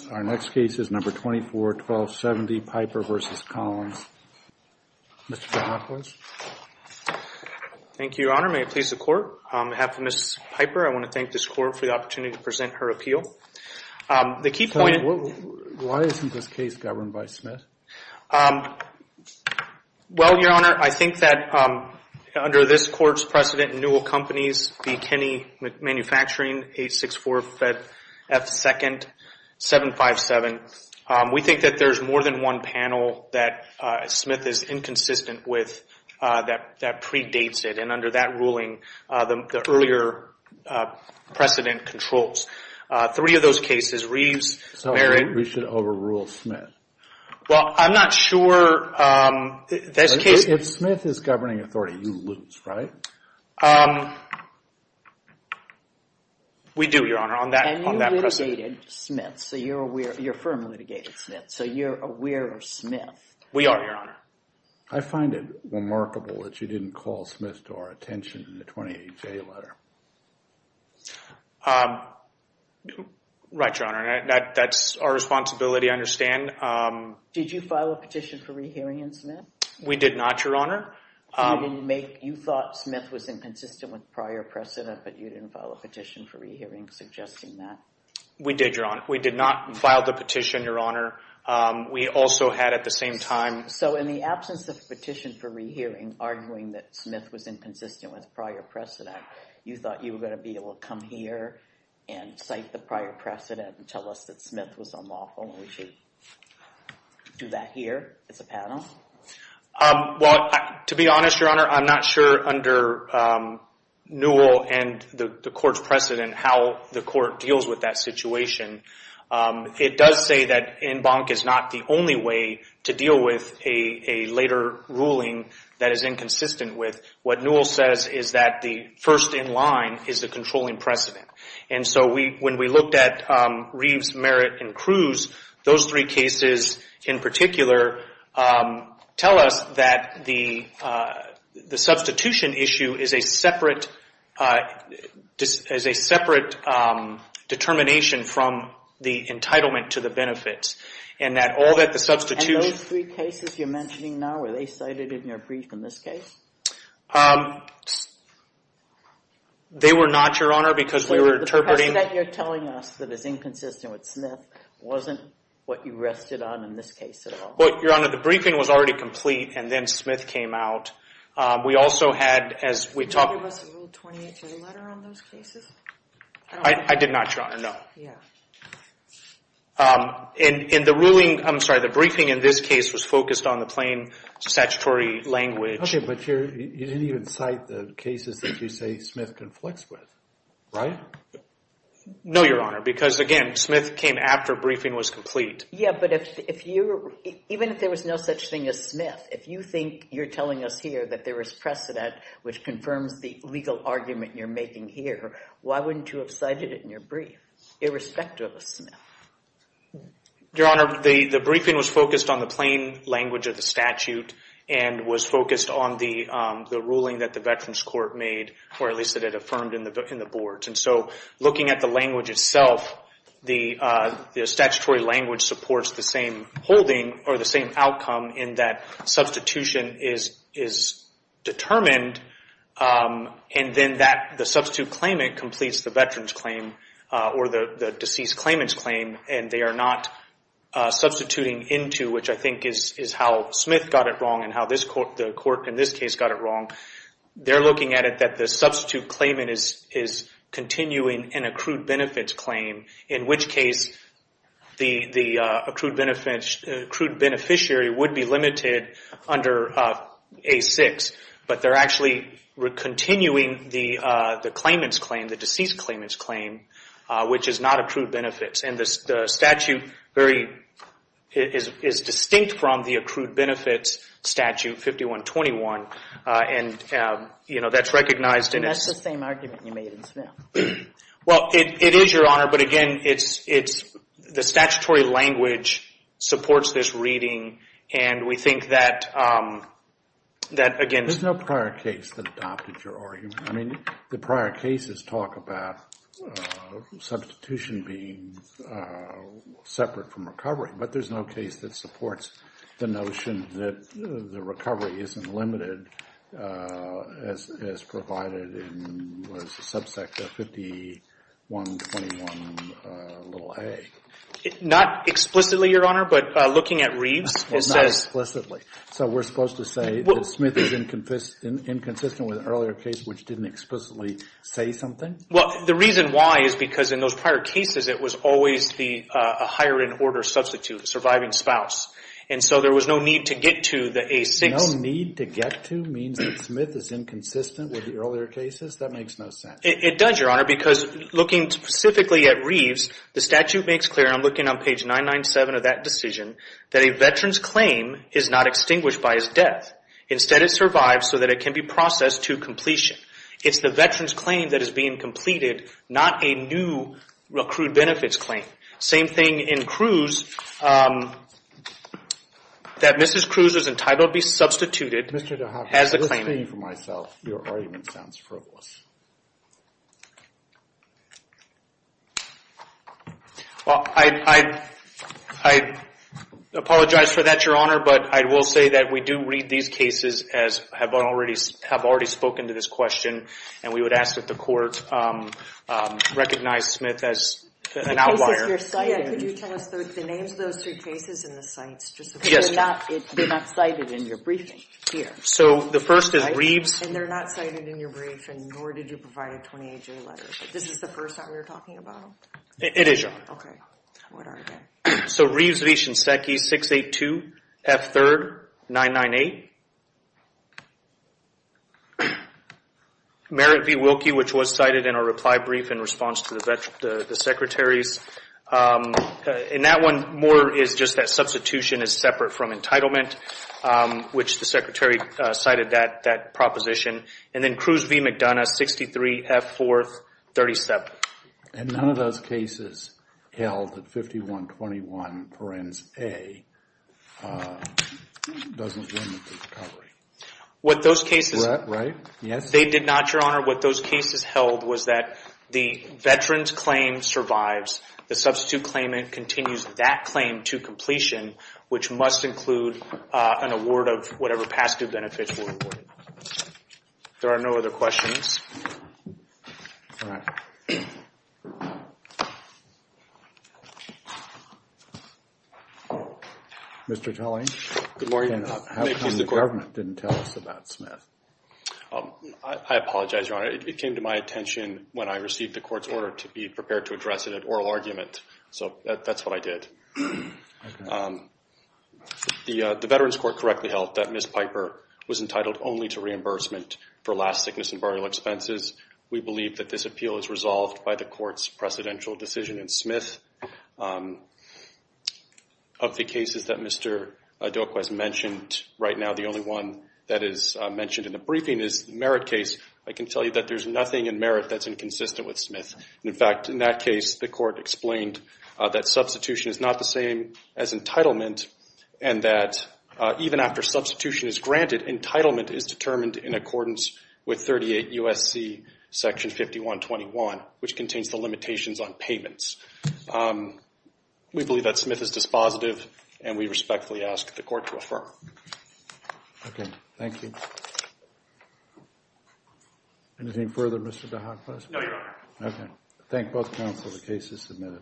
Thank you, Your Honor. May it please the Court, on behalf of Ms. Piper, I want to thank this Court for the opportunity to present her appeal. The key point... Why isn't this case governed by Smith? Well, Your Honor, I think that under this Court's precedent, new companies, McKinney Manufacturing, 864-F2nd-757, we think that there's more than one panel that Smith is inconsistent with that predates it, and under that ruling, the earlier precedent controls. Three of those cases, Reeves, Merrick... So we should overrule Smith? Well, I'm not sure... If Smith is governing authority, you lose, right? We do, Your Honor, on that precedent. And you litigated Smith, so you're aware... your firm litigated Smith, so you're aware of Smith? We are, Your Honor. I find it remarkable that you didn't call Smith to our attention in the 28-J letter. Right, Your Honor, that's our responsibility, I understand. Did you file a petition for rehearing in Smith? We did not, Your Honor. You thought Smith was inconsistent with prior precedent, but you didn't file a petition for rehearing suggesting that? We did, Your Honor. We did not file the petition, Your Honor. We also had at the same time... So in the absence of a petition for rehearing arguing that Smith was inconsistent with prior precedent, you thought you were going to be able to come here and cite the prior precedent and tell us that Smith was unlawful and we should do that here as a panel? Well, to be honest, Your Honor, I'm not sure under Newell and the court's precedent how the court deals with that situation. It does say that en banc is not the only way to deal with a later ruling that is inconsistent with. What Newell says is that the first in line is the controlling precedent. And so when we looked at Reeves, Merritt, and Cruz, those three cases in particular tell us that the substitution issue is a separate determination from the entitlement to the benefits. And those three cases you're mentioning now, were they cited in your brief in this case? They were not, Your Honor, because we were interpreting... So the precedent you're telling us that is inconsistent with Smith wasn't what you rested on in this case at all? Well, Your Honor, the briefing was already complete and then Smith came out. We also had, as we talked... Did you give us a Rule 283 letter on those cases? I did not, Your Honor, no. Yeah. In the ruling, I'm sorry, the briefing in this case was focused on the plain statutory language. Okay, but you didn't even cite the cases that you say Smith conflicts with, right? No, Your Honor, because again, Smith came after briefing was complete. Yeah, but even if there was no such thing as Smith, if you think you're telling us here that there is precedent which confirms the legal argument you're making here, why wouldn't you have cited it in your brief, irrespective of Smith? Your Honor, the briefing was focused on the plain language of the statute and was focused on the ruling that the Veterans Court made or at least that it affirmed in the boards. And so, looking at the language itself, the statutory language supports the same holding or the same outcome in that substitution is determined and then the substitute claimant completes the Veterans claim or the deceased claimant's claim and they are not substituting into, which I think is how Smith got it wrong and how the court in this case got it wrong. They're looking at it that the substitute claimant is continuing an accrued benefits claim in which case the accrued beneficiary would be limited under A6 but they're actually continuing the claimant's claim, the deceased claimant's claim which is not accrued benefits. And the statute is distinct from the accrued benefits statute 5121 and that's recognized. And that's the same argument you made in Smith. Well, it is, Your Honor, but again, the statutory language supports this reading and we think that, again... There's no prior case that adopted your argument. I mean, the prior cases talk about substitution being separate from recovery but there's no case that supports the notion that the recovery isn't limited as provided in, what is the subsect of 5121a. Not explicitly, Your Honor, but looking at Reeves, it says... Not explicitly. So we're supposed to say that Smith is inconsistent with an earlier case which didn't explicitly say something? Well, the reason why is because in those prior cases it was always a higher in order substitute, surviving spouse. And so there was no need to get to the A6... No need to get to means that Smith is inconsistent with the earlier cases? That makes no sense. It does, Your Honor, because looking specifically at Reeves, the statute makes clear, and I'm looking on page 997 of that decision, that a veteran's claim is not extinguished by his death. Instead, it survives so that it can be processed to completion. It's the veteran's claim that is being completed, not a new recruit benefits claim. Same thing in Cruz, that Mrs. Cruz is entitled to be substituted as the claimant. Mr. DeHoffman, listening for myself, your argument sounds frivolous. Well, I apologize for that, Your Honor, but I will say that we do read these cases as have already spoken to this question and we would ask that the court recognize Smith as an outlier. In the cases you're citing, could you tell us the names of those three cases and the cites just in case they're not cited in your briefing here? So the first is Reeves... And they're not cited in your briefing, nor did you provide a 28-J letter. This is the first time you're talking about them? It is, Your Honor. Okay, what are they? So Reeves v. Shinseki, 682 F. 3rd, 998. Merritt v. Wilkie, which was cited in our reply brief in response to the Secretary's. In that one, more is just that substitution is separate from entitlement, which the Secretary cited that proposition. And then Cruz v. McDonough, 63 F. 4th, 37. And none of those cases held that 5121 parens A doesn't limit the recovery? What those cases... Right? Yes? They did not, Your Honor. What those cases held was that the veteran's claim survives, the substitute claimant continues that claim to completion, which must include an award of whatever past due benefits were awarded. There are no other questions? Mr. Tully? Good morning. How come the government didn't tell us about Smith? I apologize, Your Honor. It came to my attention when I received the court's order to be prepared to address it at oral argument. So that's what I did. The Veterans Court correctly held that Ms. Piper was entitled only to reimbursement for last sickness and burial expenses. We believe that this appeal is resolved by the court's precedential decision in Smith. Of the cases that Mr. Doqua has mentioned right now, the only one that is mentioned in the briefing is the Merritt case. I can tell you that there's nothing in Merritt that's inconsistent with Smith. In fact, in that case, the court explained that substitution is not the same as entitlement and that even after substitution is granted, entitlement is determined in accordance with 38 U.S.C. Section 5121, which contains the limitations on payments. We believe that Smith is dispositive and we respectfully ask the court to affirm. Okay. Thank you. Anything further, Mr. Dohakwas? No, Your Honor. Okay. Thank both counsel. The case is submitted.